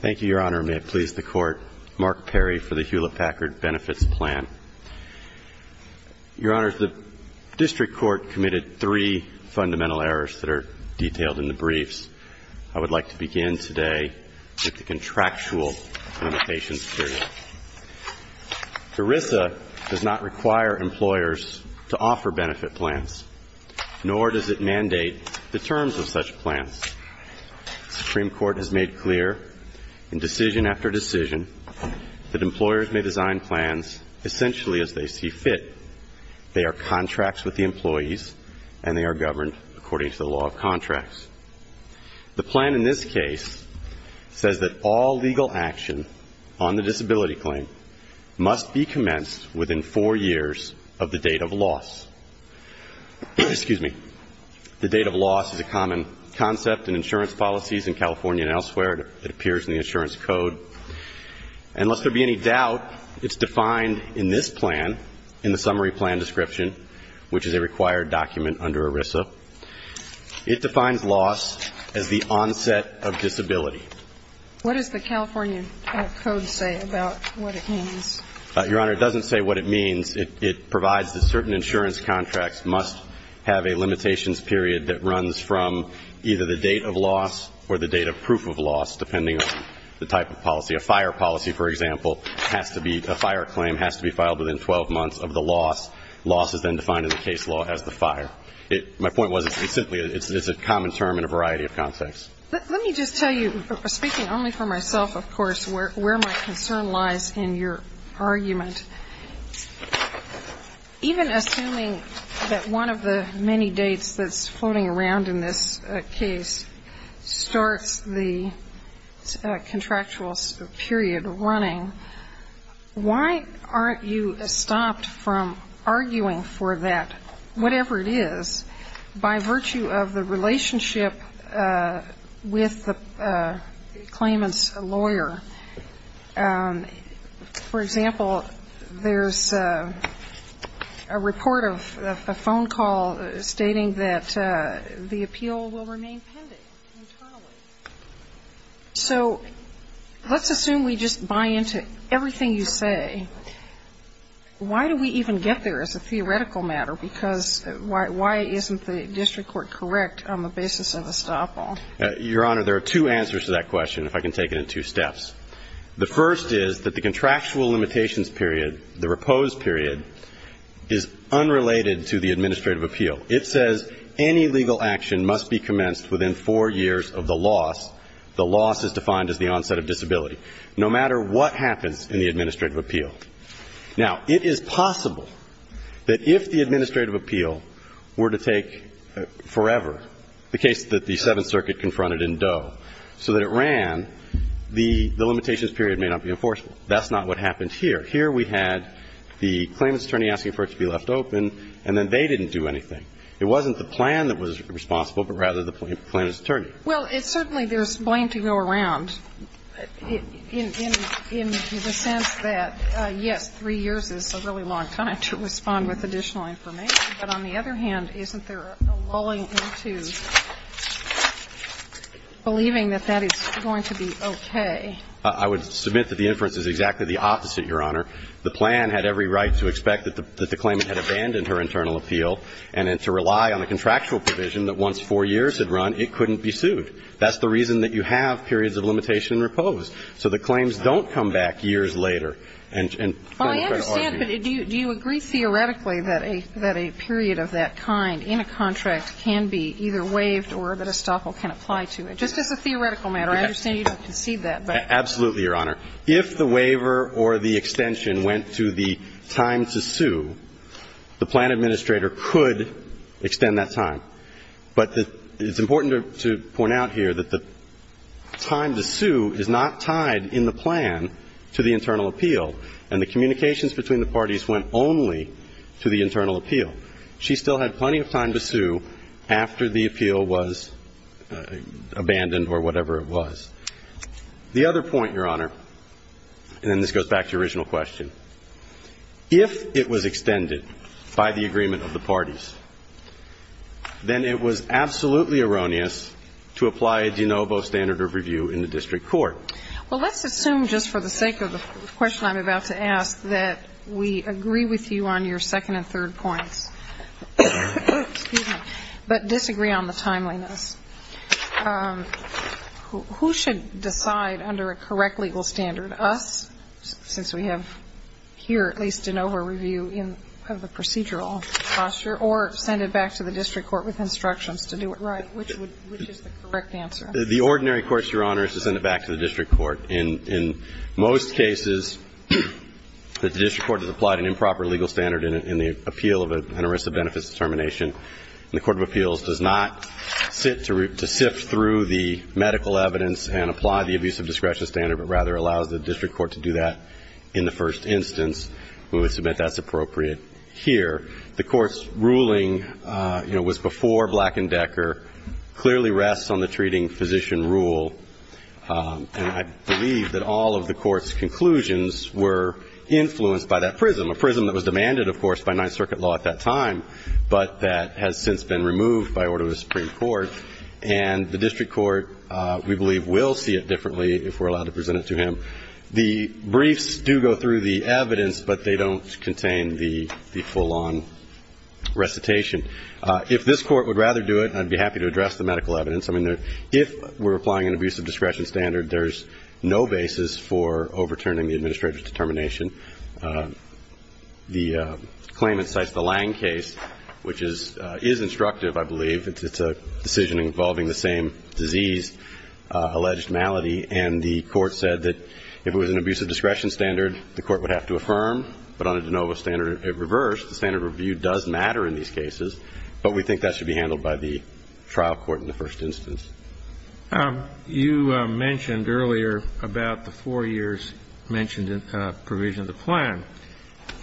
Thank you, Your Honor. May it please the Court, Mark Perry for the Hewlitt-Packard Benefits Plan. Your Honors, the District Court committed three fundamental errors that are detailed in the briefs. I would like to begin today with the contractual limitations period. ERISA does not require employers to offer benefit plans, nor does it mandate the terms of such plans. The Supreme Court has made clear in decision after decision that employers may design plans essentially as they see fit. They are contracts with the employees and they are governed according to the law of contracts. The plan in this case says that all legal action on the disability claim must be commenced within four years of the date of loss. Excuse me. The date of loss is a common concept in insurance policies in California and elsewhere. It appears in the insurance code. And lest there be any doubt, it's defined in this plan, in the summary plan description, which is a required document under ERISA. It defines loss as the onset of disability. What does the California code say about what it means? Your Honor, it doesn't say what it means. It provides that certain insurance contracts must have a limitations period that runs from either the date of loss or the date of proof of loss, depending on the type of policy. A fire policy, for example, has to be a fire claim, has to be filed within 12 months of the loss. Loss is then defined in the case law as the fire. My point was it's simply a common term in a variety of contexts. Let me just tell you, speaking only for myself, of course, where my concern lies in your argument. Even assuming that one of the many dates that's floating around in this case starts the contractual period running, why aren't you stopped from arguing for that, whatever it is, by virtue of the relationship with the claimant's lawyer? For example, there's a report of a phone call stating that the appeal will remain pending internally. So let's assume we just buy into everything you say. Why do we even get there as a theoretical matter? Because why isn't the district court correct on the basis of a stop-all? Your Honor, there are two answers to that question, if I can take it in two steps. The first is that the contractual limitations period, the repose period, is unrelated to the administrative appeal. It says any legal action must be commenced within four years of the loss. The loss is defined as the onset of disability, no matter what happens in the administrative appeal. Now, it is possible that if the administrative appeal were to take forever, the case that the Seventh Circuit confronted in Doe, so that it ran, the limitations period may not be enforceable. That's not what happened here. Here we had the claimant's attorney asking for it to be left open, and then they didn't do anything. It wasn't the plan that was responsible, but rather the claimant's attorney. Well, it's certainly there's blame to go around in the sense that, yes, three years is a really long time to respond with additional information, but on the other hand, isn't there a lulling into believing that that is going to be okay? I would submit that the inference is exactly the opposite, Your Honor. The plan had every right to expect that the claimant had abandoned her internal appeal and to rely on a contractual provision that once four years had run, it couldn't be sued. That's the reason that you have periods of limitation and repose. So the claims don't come back years later and turn to federal appeal. Well, I understand, but do you agree theoretically that a period of that kind in a contract can be either waived or that a stockhold can apply to it? Just as a theoretical matter, I understand you don't concede that, but… Absolutely, Your Honor. If the waiver or the extension went to the time to sue, the claimant could extend that time. But it's important to point out here that the time to sue is not tied in the plan to the internal appeal, and the communications between the parties went only to the internal appeal. She still had plenty of time to sue after the appeal was abandoned or whatever it was. The other point, Your Honor, and then this goes back to your original question, if it was extended by the agreement of the parties, then it was absolutely erroneous to apply a de novo standard of review in the district court. Well, let's assume just for the sake of the question I'm about to ask that we agree with you on your second and third points, but disagree on the timeliness. Who should decide under a correct legal standard? Us, since we have here at least a de novo review in the procedural posture, or send it back to the district court with instructions to do it? Right. Which is the correct answer? The ordinary court, Your Honor, is to send it back to the district court. In most cases, the district court has applied an improper legal standard in the appeal of an arrest of benefits determination, and the court of appeals does not sit to sift through the medical evidence and apply the abuse of discretion standard, but rather allows the district court to do that in the first instance. We would submit that's appropriate here. The court's ruling, you know, was before Black and Decker, clearly rests on the treating physician rule, and I believe that all of the court's conclusions were influenced by that prism, a prism that was demanded, of course, by Ninth Circuit law at that time, but that has since been removed by order of the Supreme Court, and the district court, we believe, will see it differently if we're to present it to him. The briefs do go through the evidence, but they don't contain the full-on recitation. If this court would rather do it, I'd be happy to address the medical evidence. I mean, if we're applying an abuse of discretion standard, there's no basis for overturning the administrator's determination. The claim incites the Lange case, which is instructive, I believe. It's a decision involving the same disease, alleged malady, and the court said that if it was an abuse of discretion standard, the court would have to affirm, but on a de novo standard, it reversed. The standard of review does matter in these cases, but we think that should be handled by the trial court in the first instance. You mentioned earlier about the four years mentioned in provision of the plan,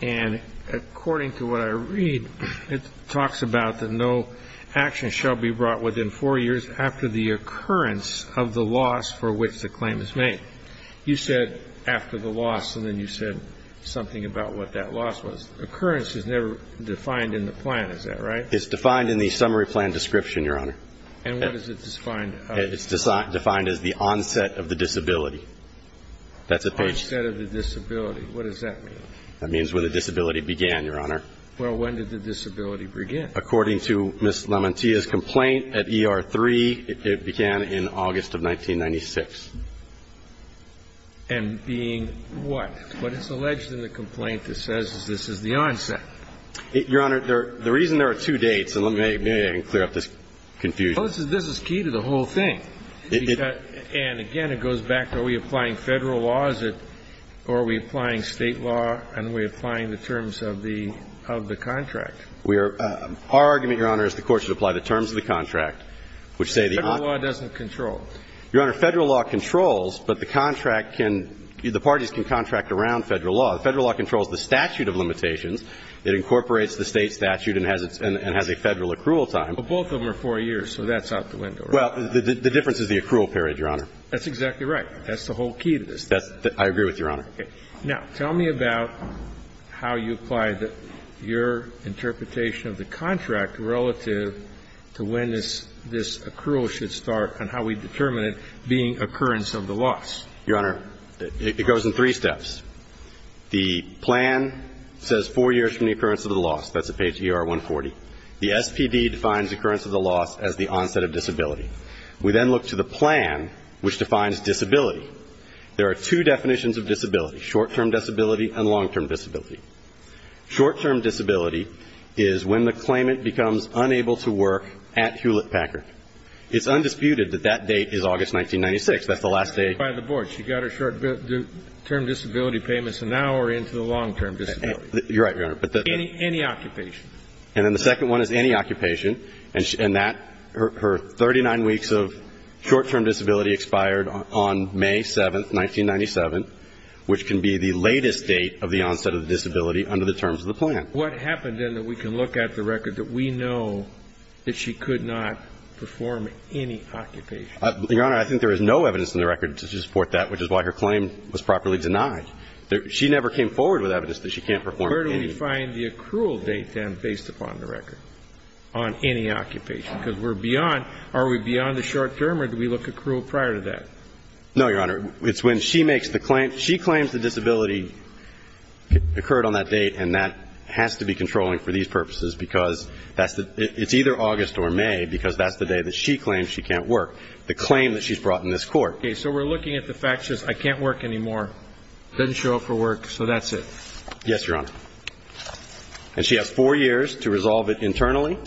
and according to what I read, it talks about that no action shall be brought within four years after the occurrence of the loss for which the claim is made. You said after the loss, and then you said something about what that loss was. Occurrence is never defined in the plan, is that right? It's defined in the summary plan description, Your Honor. And what does it define? It's defined as the onset of the disability. That's a page of the plan. The onset of the disability. What does that mean? That means where the disability began, Your Honor. Well, when did the disability begin? According to Ms. Lamantia's complaint at ER-3, it began in August of 1996. And being what? What is alleged in the complaint that says this is the onset? Your Honor, the reason there are two dates, and maybe I can clear up this confusion. This is key to the whole thing. And again, it goes back to are we applying Federal laws or are we applying State law and we're applying the terms of the contract? We are – our argument, Your Honor, is the Court should apply the terms of the contract, which say the – Federal law doesn't control. Your Honor, Federal law controls, but the contract can – the parties can contract around Federal law. Federal law controls the statute of limitations. It incorporates the State statute and has a Federal accrual time. But both of them are four years, so that's out the window, right? Well, the difference is the accrual period, Your Honor. That's exactly right. That's the whole key to this. That's – I agree with Your Honor. Okay. Now, tell me about how you apply the – your interpretation of the contract relative to when this – this accrual should start and how we determine it being occurrence of the loss. Your Honor, it goes in three steps. The plan says four years from the occurrence of the loss. That's at page ER 140. The SPD defines occurrence of the loss as the onset of disability. We then look to the plan, which defines disability. There are two definitions of disability, short-term disability and long-term disability. Short-term disability is when the claimant becomes unable to work at Hewlett-Packard. It's undisputed that that date is August 1996. That's the last day. By the board. She got her short-term disability payments, and now we're into the long-term disability. You're right, Your Honor. Any occupation. And then the second one is any occupation, and that – her 39 weeks of short-term disability expired on May 7, 1997, which can be the latest date of the onset of disability under the terms of the plan. What happened, then, that we can look at the record that we know that she could not perform any occupation? Your Honor, I think there is no evidence in the record to support that, which is why her claim was properly denied. She never came forward with evidence that she can't perform any. Where do we find the accrual date, then, based upon the record on any occupation? Because we're beyond – are we beyond the short-term, or do we look at accrual prior to that? No, Your Honor. It's when she makes the claim – she claims the disability occurred on that date, and that has to be controlling for these purposes, because that's the – it's either August or May, because that's the day that she claims she can't work. The claim that she's brought in this court. Okay. So we're looking at the fact that she says, I can't work anymore. Doesn't show up for work, so that's it. Yes, Your Honor. And she has four years to resolve it internally.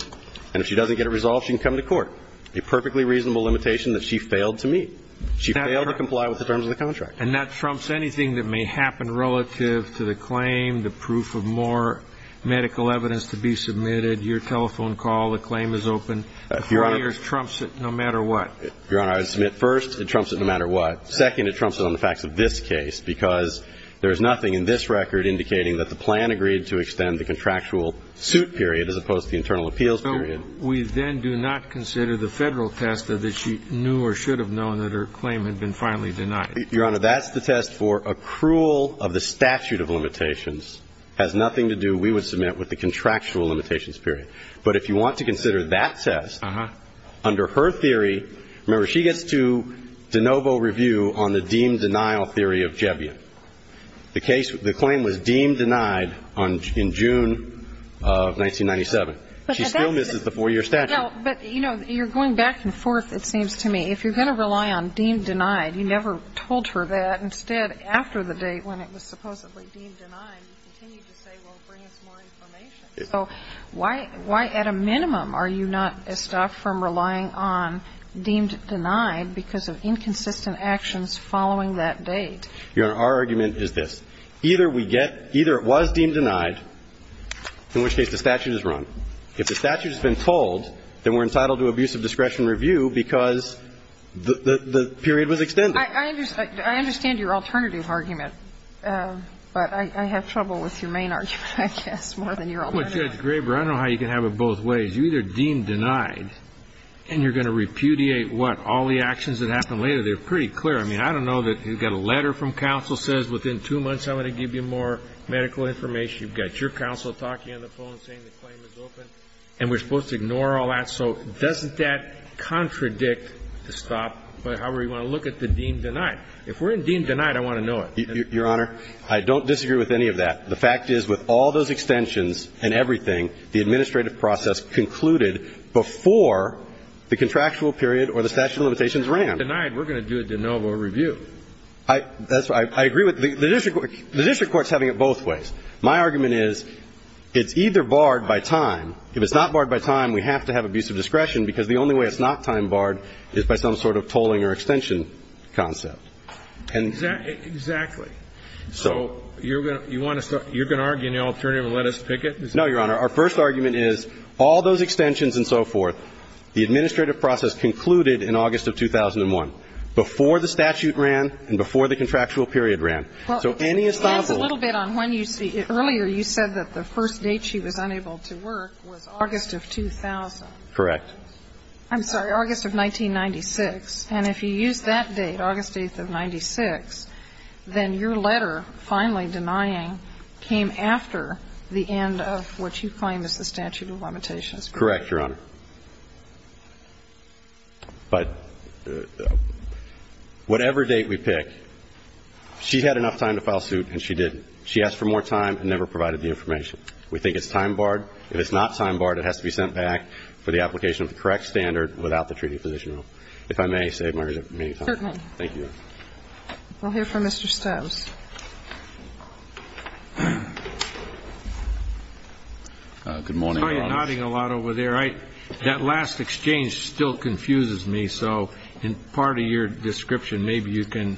And if she doesn't get it resolved, she can come to court. A perfectly reasonable limitation that she failed to meet. She failed to comply with the terms of the contract. And that trumps anything that may happen relative to the claim, the proof of more medical evidence to be submitted, your telephone call, the claim is open. The four years trumps it no matter what. Your Honor, I would submit, first, it trumps it no matter what. Second, it trumps it on the facts of this case, because there is nothing in this record indicating that the plan agreed to extend the contractual suit period, as opposed to the internal appeals period. So we then do not consider the Federal test that she knew or should have known that her claim had been finally denied. Your Honor, that's the test for accrual of the statute of limitations, has nothing to do, we would submit, with the contractual limitations period. But if you want to consider that test, under her theory, remember, she gets to de novo review on the deemed denial theory of Jebion. The claim was deemed denied in June of 1997. She still misses the four-year statute. But, you know, you're going back and forth, it seems to me. If you're going to rely on deemed denied, you never told her that. Instead, after the date when it was supposedly deemed denied, you continued to say, well, bring us more information. So why at a minimum are you not stopped from relying on deemed denied because of inconsistent actions following that date? Your Honor, our argument is this. Either we get – either it was deemed denied, in which case the statute is run. If the statute has been told, then we're entitled to abuse of discretion review because the period was extended. I understand your alternative argument. But I have trouble with your main argument, I guess, more than your alternative. Well, Judge Graber, I don't know how you can have it both ways. You either deem denied and you're going to repudiate what? All the actions that happened later. They're pretty clear. I mean, I don't know that you've got a letter from counsel that says within two months I'm going to give you more medical information. You've got your counsel talking on the phone saying the claim is open and we're supposed to ignore all that. So doesn't that contradict the stop? However, you want to look at the deemed denied. If we're in deemed denied, I want to know it. Your Honor, I don't disagree with any of that. The fact is, with all those extensions and everything, the administrative process concluded before the contractual period or the statute of limitations ran. If it's denied, we're going to do a de novo review. I agree with the district court. The district court is having it both ways. My argument is, it's either barred by time. If it's not barred by time, we have to have abusive discretion because the only way it's not time barred is by some sort of tolling or extension concept. Exactly. So you're going to argue an alternative and let us pick it? No, Your Honor. Our first argument is, all those extensions and so forth, the administrative process concluded in August of 2001, before the statute ran and before the contractual period ran. So any estoppel. Well, it depends a little bit on when you see it. Earlier, you said that the first date she was unable to work was August of 2000. Correct. I'm sorry, August of 1996. And if you use that date, August 8th of 1996, then your letter finally denying came after the end of what you claim is the statute of limitations. Correct, Your Honor. But whatever date we pick, she had enough time to file suit and she didn't. She asked for more time and never provided the information. We think it's time barred. If it's not time barred, it has to be sent back for the application of the correct standard without the treating physician rule. If I may, I'll save my remaining time. Certainly. Thank you. We'll hear from Mr. Stoves. Good morning, Your Honor. I was nodding a lot over there. That last exchange still confuses me. So in part of your description, maybe you can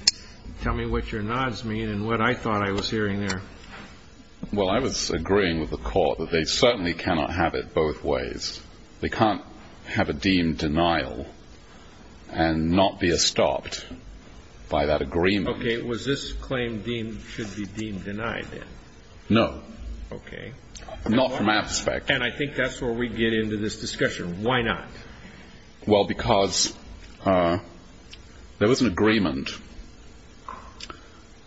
tell me what your nods mean and what I thought I was hearing there. Well, I was agreeing with the court that they certainly cannot have it both ways. They can't have a deemed denial and not be estopped by that agreement. Okay. Was this claim deemed should be deemed denied then? No. Okay. Not from that aspect. And I think that's where we get into this discussion. Why not? Well, because there was an agreement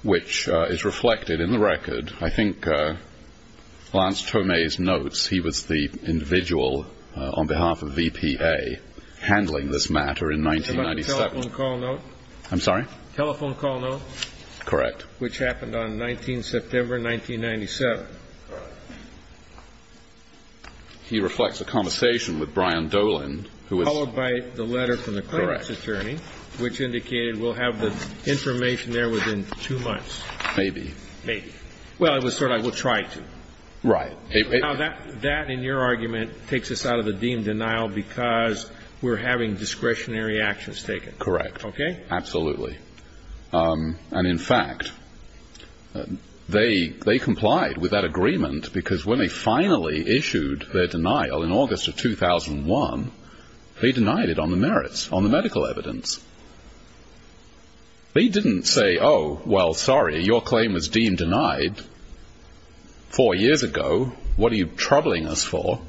which is reflected in the record. I think Lance Tomei's notes, he was the individual on behalf of VPA handling this matter in 1997. About the telephone call note? I'm sorry? Telephone call note? Correct. Which happened on 19 September, 1997. He reflects a conversation with Brian Dolan, who was ---- Followed by the letter from the claimant's attorney, which indicated we'll have the information there within two months. Maybe. Maybe. Well, it was sort of, we'll try to. Right. Now, that in your argument takes us out of the deemed denial because we're having discretionary actions taken. Correct. Okay? Absolutely. And in fact, they complied with that agreement because when they finally issued their denial in August of 2001, they denied it on the merits, on the medical evidence. They didn't say, oh, well, sorry, your claim was deemed denied four years ago. What are you troubling us for?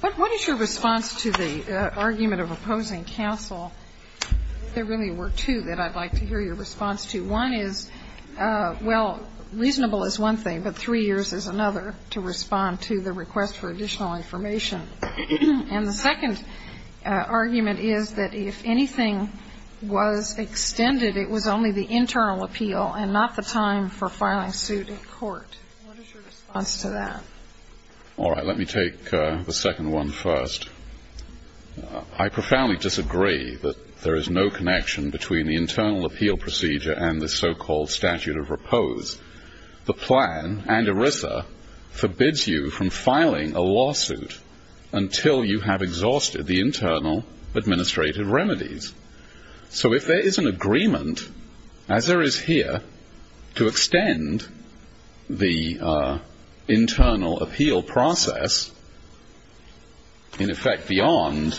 What is your response to the argument of opposing counsel? There really were two that I'd like to hear your response to. One is, well, reasonable is one thing, but three years is another to respond to the request for additional information. And the second argument is that if anything was extended, it was only the internal appeal and not the time for filing suit in court. What is your response to that? All right. Let me take the second one first. I profoundly disagree that there is no connection between the internal appeal procedure and the so-called statute of repose. The plan and ERISA forbids you from filing a lawsuit until you have exhausted the internal administrative remedies. So if there is an agreement, as there is here, to extend the internal appeal process in effect beyond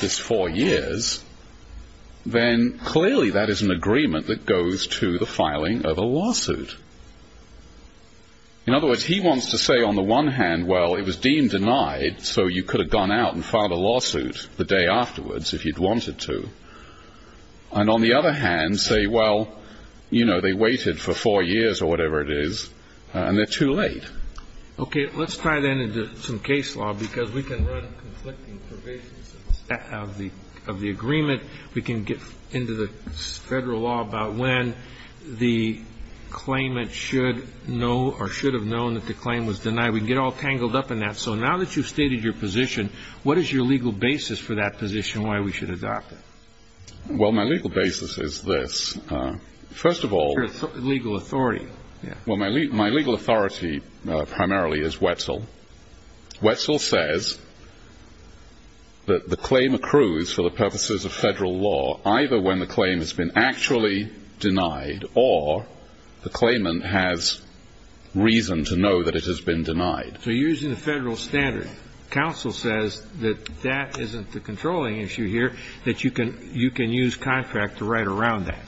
this four years, then clearly that is an agreement that goes to the filing of a lawsuit. In other words, he wants to say on the one hand, well, it was deemed denied, so you could have gone out and filed a lawsuit the day afterwards if you'd wanted to. And on the other hand, say, well, you know, they waited for four years or whatever it is, and they're too late. Okay. Let's try that into some case law because we can run conflicting probations of the agreement. We can get into the federal law about when the claimant should know or should have known that the claim was denied. We can get all tangled up in that. So now that you've stated your position, what is your legal basis for that position and why we should adopt it? Well, my legal basis is this. First of all, legal authority. Well, my legal authority primarily is Wetzel. Wetzel says that the claim accrues for the purposes of federal law either when the claim has been actually denied or the claimant has reason to know that it has been denied. So you're using the federal standard. Counsel says that that isn't the controlling issue here, that you can use contract to write around that.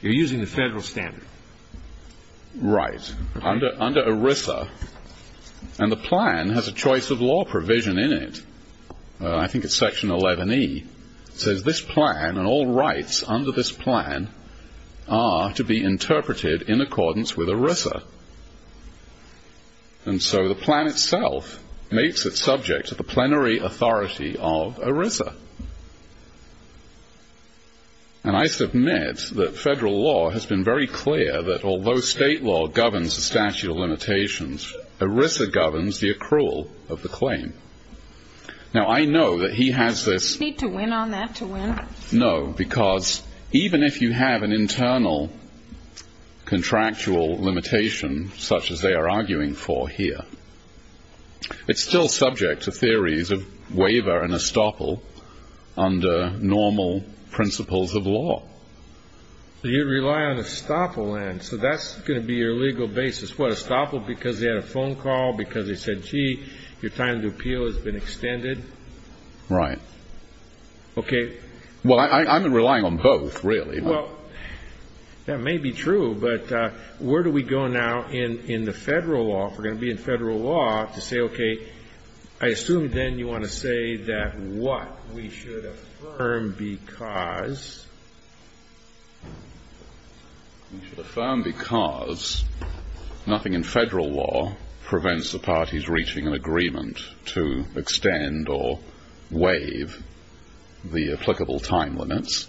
You're using the federal standard. Right. Under ERISA, and the plan has a choice of law provision in it. I think it's section 11E. It says this plan and all rights under this plan are to be interpreted in accordance with ERISA. And so the plan itself makes it subject to the plenary authority of ERISA. And I submit that federal law has been very clear that although state law governs the statute of limitations, ERISA governs the accrual of the claim. Now, I know that he has this. Do you need to win on that to win? No, because even if you have an internal contractual limitation such as they are arguing for here, it's still subject to theories of waiver and estoppel under normal principles of law. You rely on estoppel then, so that's going to be your legal basis. What, estoppel because they had a phone call, because they said, gee, your time to appeal has been extended? Right. Okay. Well, I'm relying on both, really. Well, that may be true, but where do we go now in the federal law, if we're going to be in federal law, to say, okay, I assume then you want to say that what we should affirm because? We should affirm because nothing in federal law prevents the parties reaching an agreement to extend or waive the applicable time limits.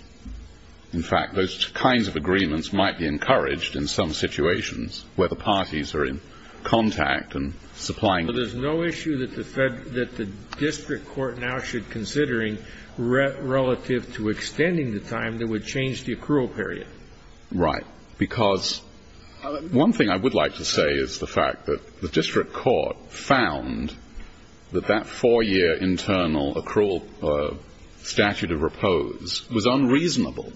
In fact, those kinds of agreements might be encouraged in some situations where the parties are in contact and supplying. Well, there's no issue that the district court now should be considering relative to extending the time that would change the accrual period. Right. Because one thing I would like to say is the fact that the district court found that that 4-year internal accrual statute of repose was unreasonable.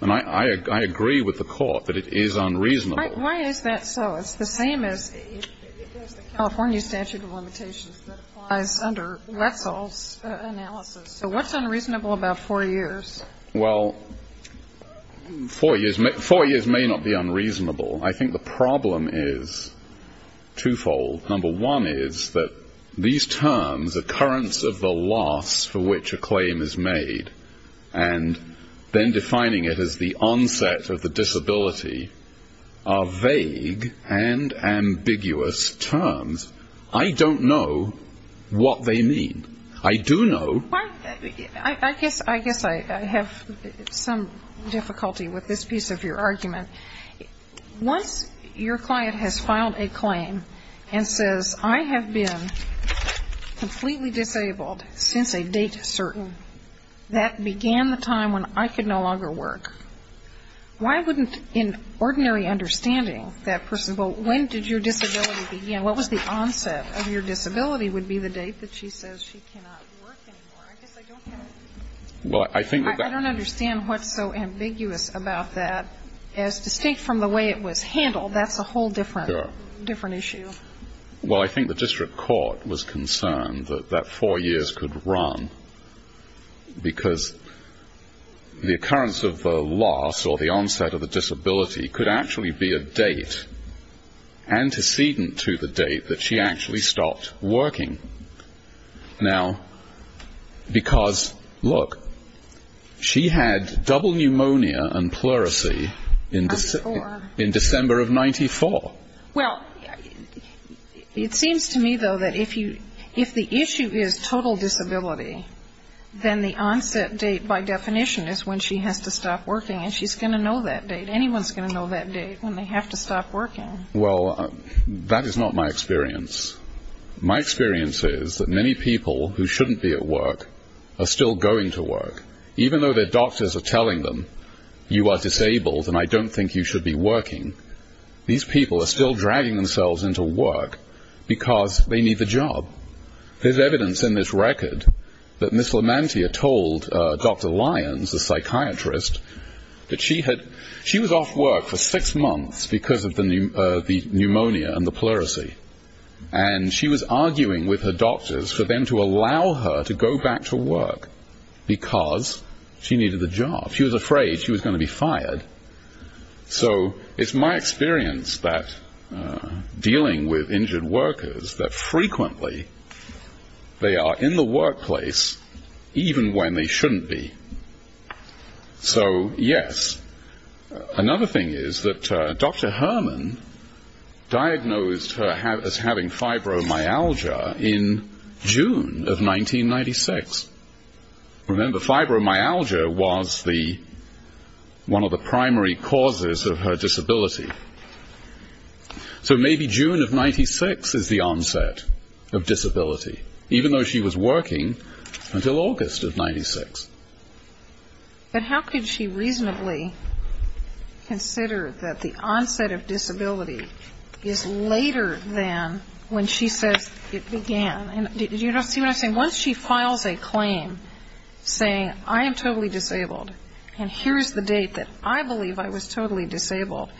And I agree with the court that it is unreasonable. Why is that so? Because the same as the California statute of limitations that applies under Wetzel's analysis. So what's unreasonable about 4 years? Well, 4 years may not be unreasonable. I think the problem is twofold. Number one is that these terms, occurrence of the loss for which a claim is made, and then defining it as the onset of the disability are vague and ambiguous terms. I don't know what they mean. I do know. I guess I have some difficulty with this piece of your argument. Once your client has filed a claim and says, I have been completely disabled since a date certain. That began the time when I could no longer work. Why wouldn't, in ordinary understanding, that person go, when did your disability begin? What was the onset of your disability would be the date that she says she cannot work anymore? I guess I don't get it. I don't understand what's so ambiguous about that. As distinct from the way it was handled, that's a whole different issue. Well, I think the district court was concerned that 4 years could run, because the occurrence of the loss or the onset of the disability could actually be a date, antecedent to the date that she actually stopped working. Now, because, look, she had double pneumonia and pleurisy in December of 94. Well, it seems to me, though, that if the issue is total disability, then the onset date, by definition, is when she has to stop working. And she's going to know that date. Anyone's going to know that date when they have to stop working. Well, that is not my experience. My experience is that many people who shouldn't be at work are still going to work, even though their doctors are telling them, you are disabled and I don't think you should be working. These people are still dragging themselves into work because they need the job. There's evidence in this record that Miss Lamantia told Dr. Lyons, the psychiatrist, that she was off work for 6 months because of the pneumonia and the pleurisy. And she was arguing with her doctors for them to allow her to go back to work because she needed the job. She was afraid she was going to be fired. So it's my experience that dealing with injured workers, that frequently they are in the workplace even when they shouldn't be. So, yes, another thing is that Dr. Herman diagnosed her as having fibromyalgia in June of 1996. Remember, fibromyalgia was one of the primary causes of her disability. So maybe June of 1996 is the onset of disability, even though she was working until August of 1996. But how could she reasonably consider that the onset of disability is later than when she says it began? Do you see what I'm saying? Once she files a claim saying, I am totally disabled and here's the date that I believe I was totally disabled,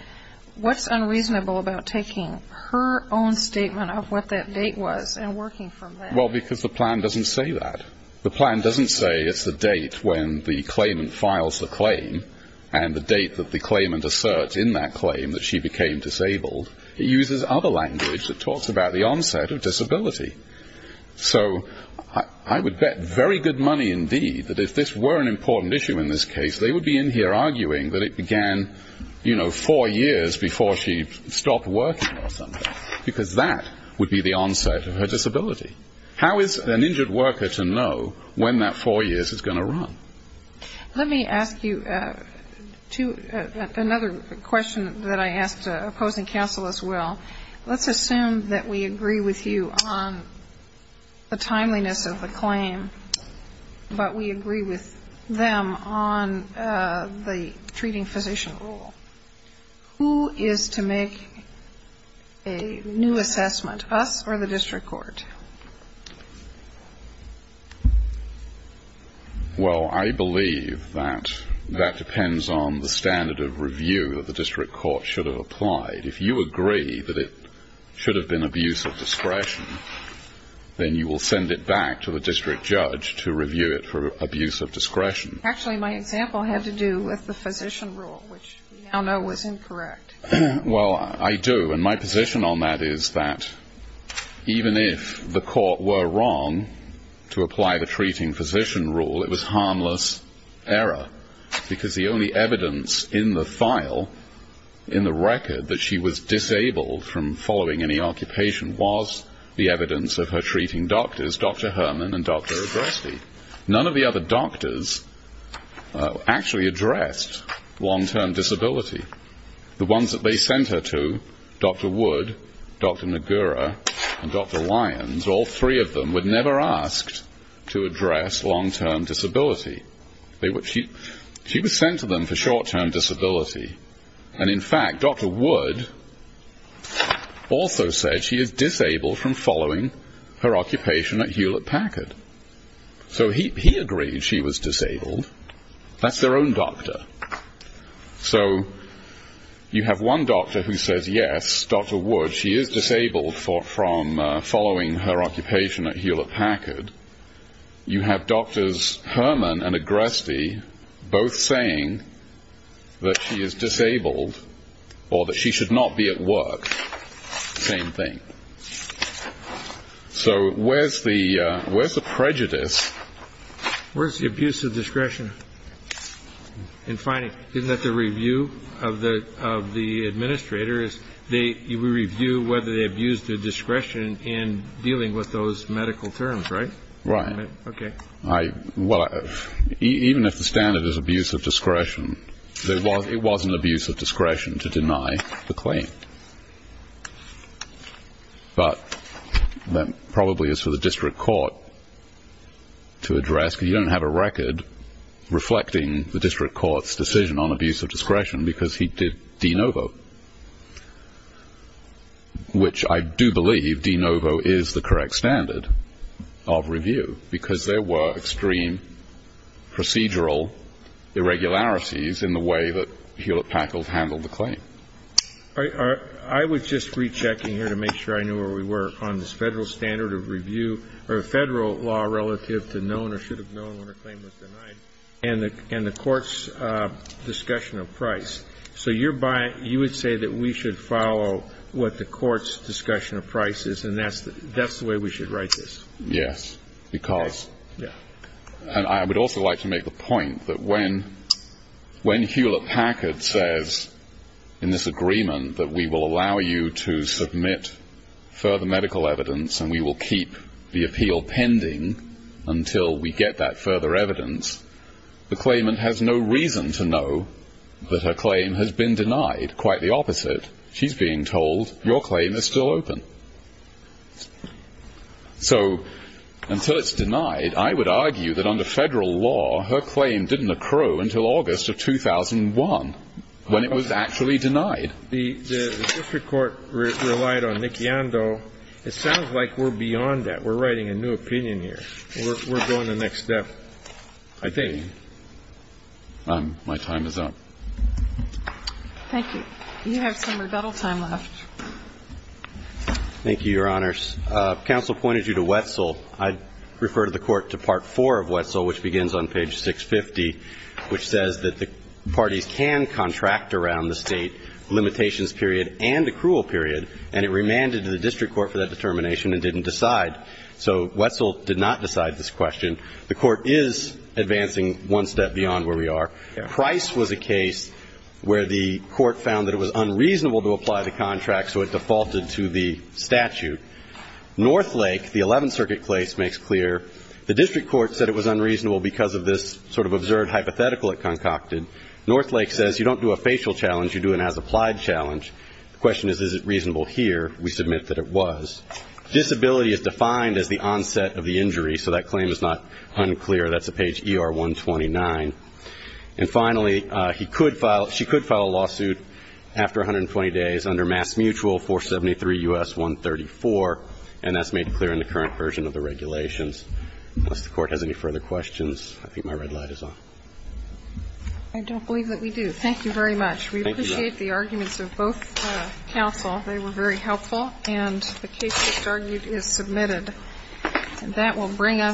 what's unreasonable about taking her own statement of what that date was and working from that? Well, because the plan doesn't say that. The plan doesn't say it's the date when the claimant files the claim and the date that the claimant asserts in that claim that she became disabled. It uses other language that talks about the onset of disability. So I would bet very good money indeed that if this were an important issue in this case, they would be in here arguing that it began, you know, four years before she stopped working or something, because that would be the onset of her disability. How is an injured worker to know when that four years is going to run? Let me ask you another question that I asked opposing counsel as well. Let's assume that we agree with you on the timeliness of the claim, but we agree with them on the treating physician rule. Who is to make a new assessment, us or the district court? Well, I believe that that depends on the standard of review that the district court should have applied. If you agree that it should have been abuse of discretion, then you will send it back to the district judge to review it for abuse of discretion. Actually, my example had to do with the physician rule, which we now know was incorrect. Well, I do. And my position on that is that even if the court were wrong to apply the treating physician rule, it was harmless error, because the only evidence in the file, in the record that she was disabled from following any occupation, was the evidence of her treating doctors, Dr. Herman and Dr. Agreste. None of the other doctors actually addressed long-term disability. The ones that they sent her to, Dr. Wood, Dr. Nagura, and Dr. Lyons, all three of them were never asked to address long-term disability. She was sent to them for short-term disability, and in fact, Dr. Wood also said she is disabled from following her occupation at Hewlett Packard. So he agreed she was disabled. That's their own doctor. So you have one doctor who says, yes, Dr. Wood, she is disabled from following her occupation at Hewlett Packard. You have Drs. Herman and Agreste both saying that she is disabled or that she should not be at work. Same thing. So where's the prejudice? Where's the abuse of discretion? And finally, isn't that the review of the administrators? We review whether they abused their discretion in dealing with those medical terms, right? Right. Okay. Well, even if the standard is abuse of discretion, it was an abuse of discretion to deny the claim. But that probably is for the district court to address, because you don't have a record reflecting the district court's decision on abuse of discretion, because he did de novo, which I do believe de novo is the correct standard of review, because there were extreme procedural irregularities in the way that Hewlett Packard handled the claim. I was just rechecking here to make sure I knew where we were on this federal standard of review or federal law relative to known or should have known when a claim was denied and the court's discussion of price. So you would say that we should follow what the court's discussion of price is, and that's the way we should write this? Yes, because. And I would also like to make the point that when Hewlett Packard says in this agreement that we will allow you to submit further medical evidence and we will keep the appeal pending until we get that further evidence, the claimant has no reason to know that her claim has been denied. Quite the opposite. She's being told your claim is still open. So until it's denied, I would argue that under federal law, her claim didn't accrue until August of 2001 when it was actually denied. The district court relied on Niki Ando. It sounds like we're beyond that. We're writing a new opinion here. We're going the next step. I think my time is up. Thank you. You have some rebuttal time left. Thank you, Your Honors. Counsel pointed you to Wetzel. I refer to the court to Part 4 of Wetzel, which begins on page 650, which says that the parties can contract around the state limitations period and accrual period, and it remanded to the district court for that determination and didn't decide. So Wetzel did not decide this question. The court is advancing one step beyond where we are. Price was a case where the court found that it was unreasonable to apply the contract so it defaulted to the statute. Northlake, the 11th Circuit case, makes clear the district court said it was unreasonable because of this sort of absurd hypothetical it concocted. Northlake says you don't do a facial challenge, you do an as-applied challenge. The question is, is it reasonable here? We submit that it was. Disability is defined as the onset of the injury, so that claim is not unclear. That's on page ER-129. And finally, he could file – she could file a lawsuit after 120 days under MassMutual 473 U.S. 134, and that's made clear in the current version of the regulations. Unless the Court has any further questions, I think my red light is on. I don't believe that we do. Thank you very much. Thank you, Your Honor. We appreciate the arguments of both counsel. They were very helpful. And that will bring us to the end of the hearing.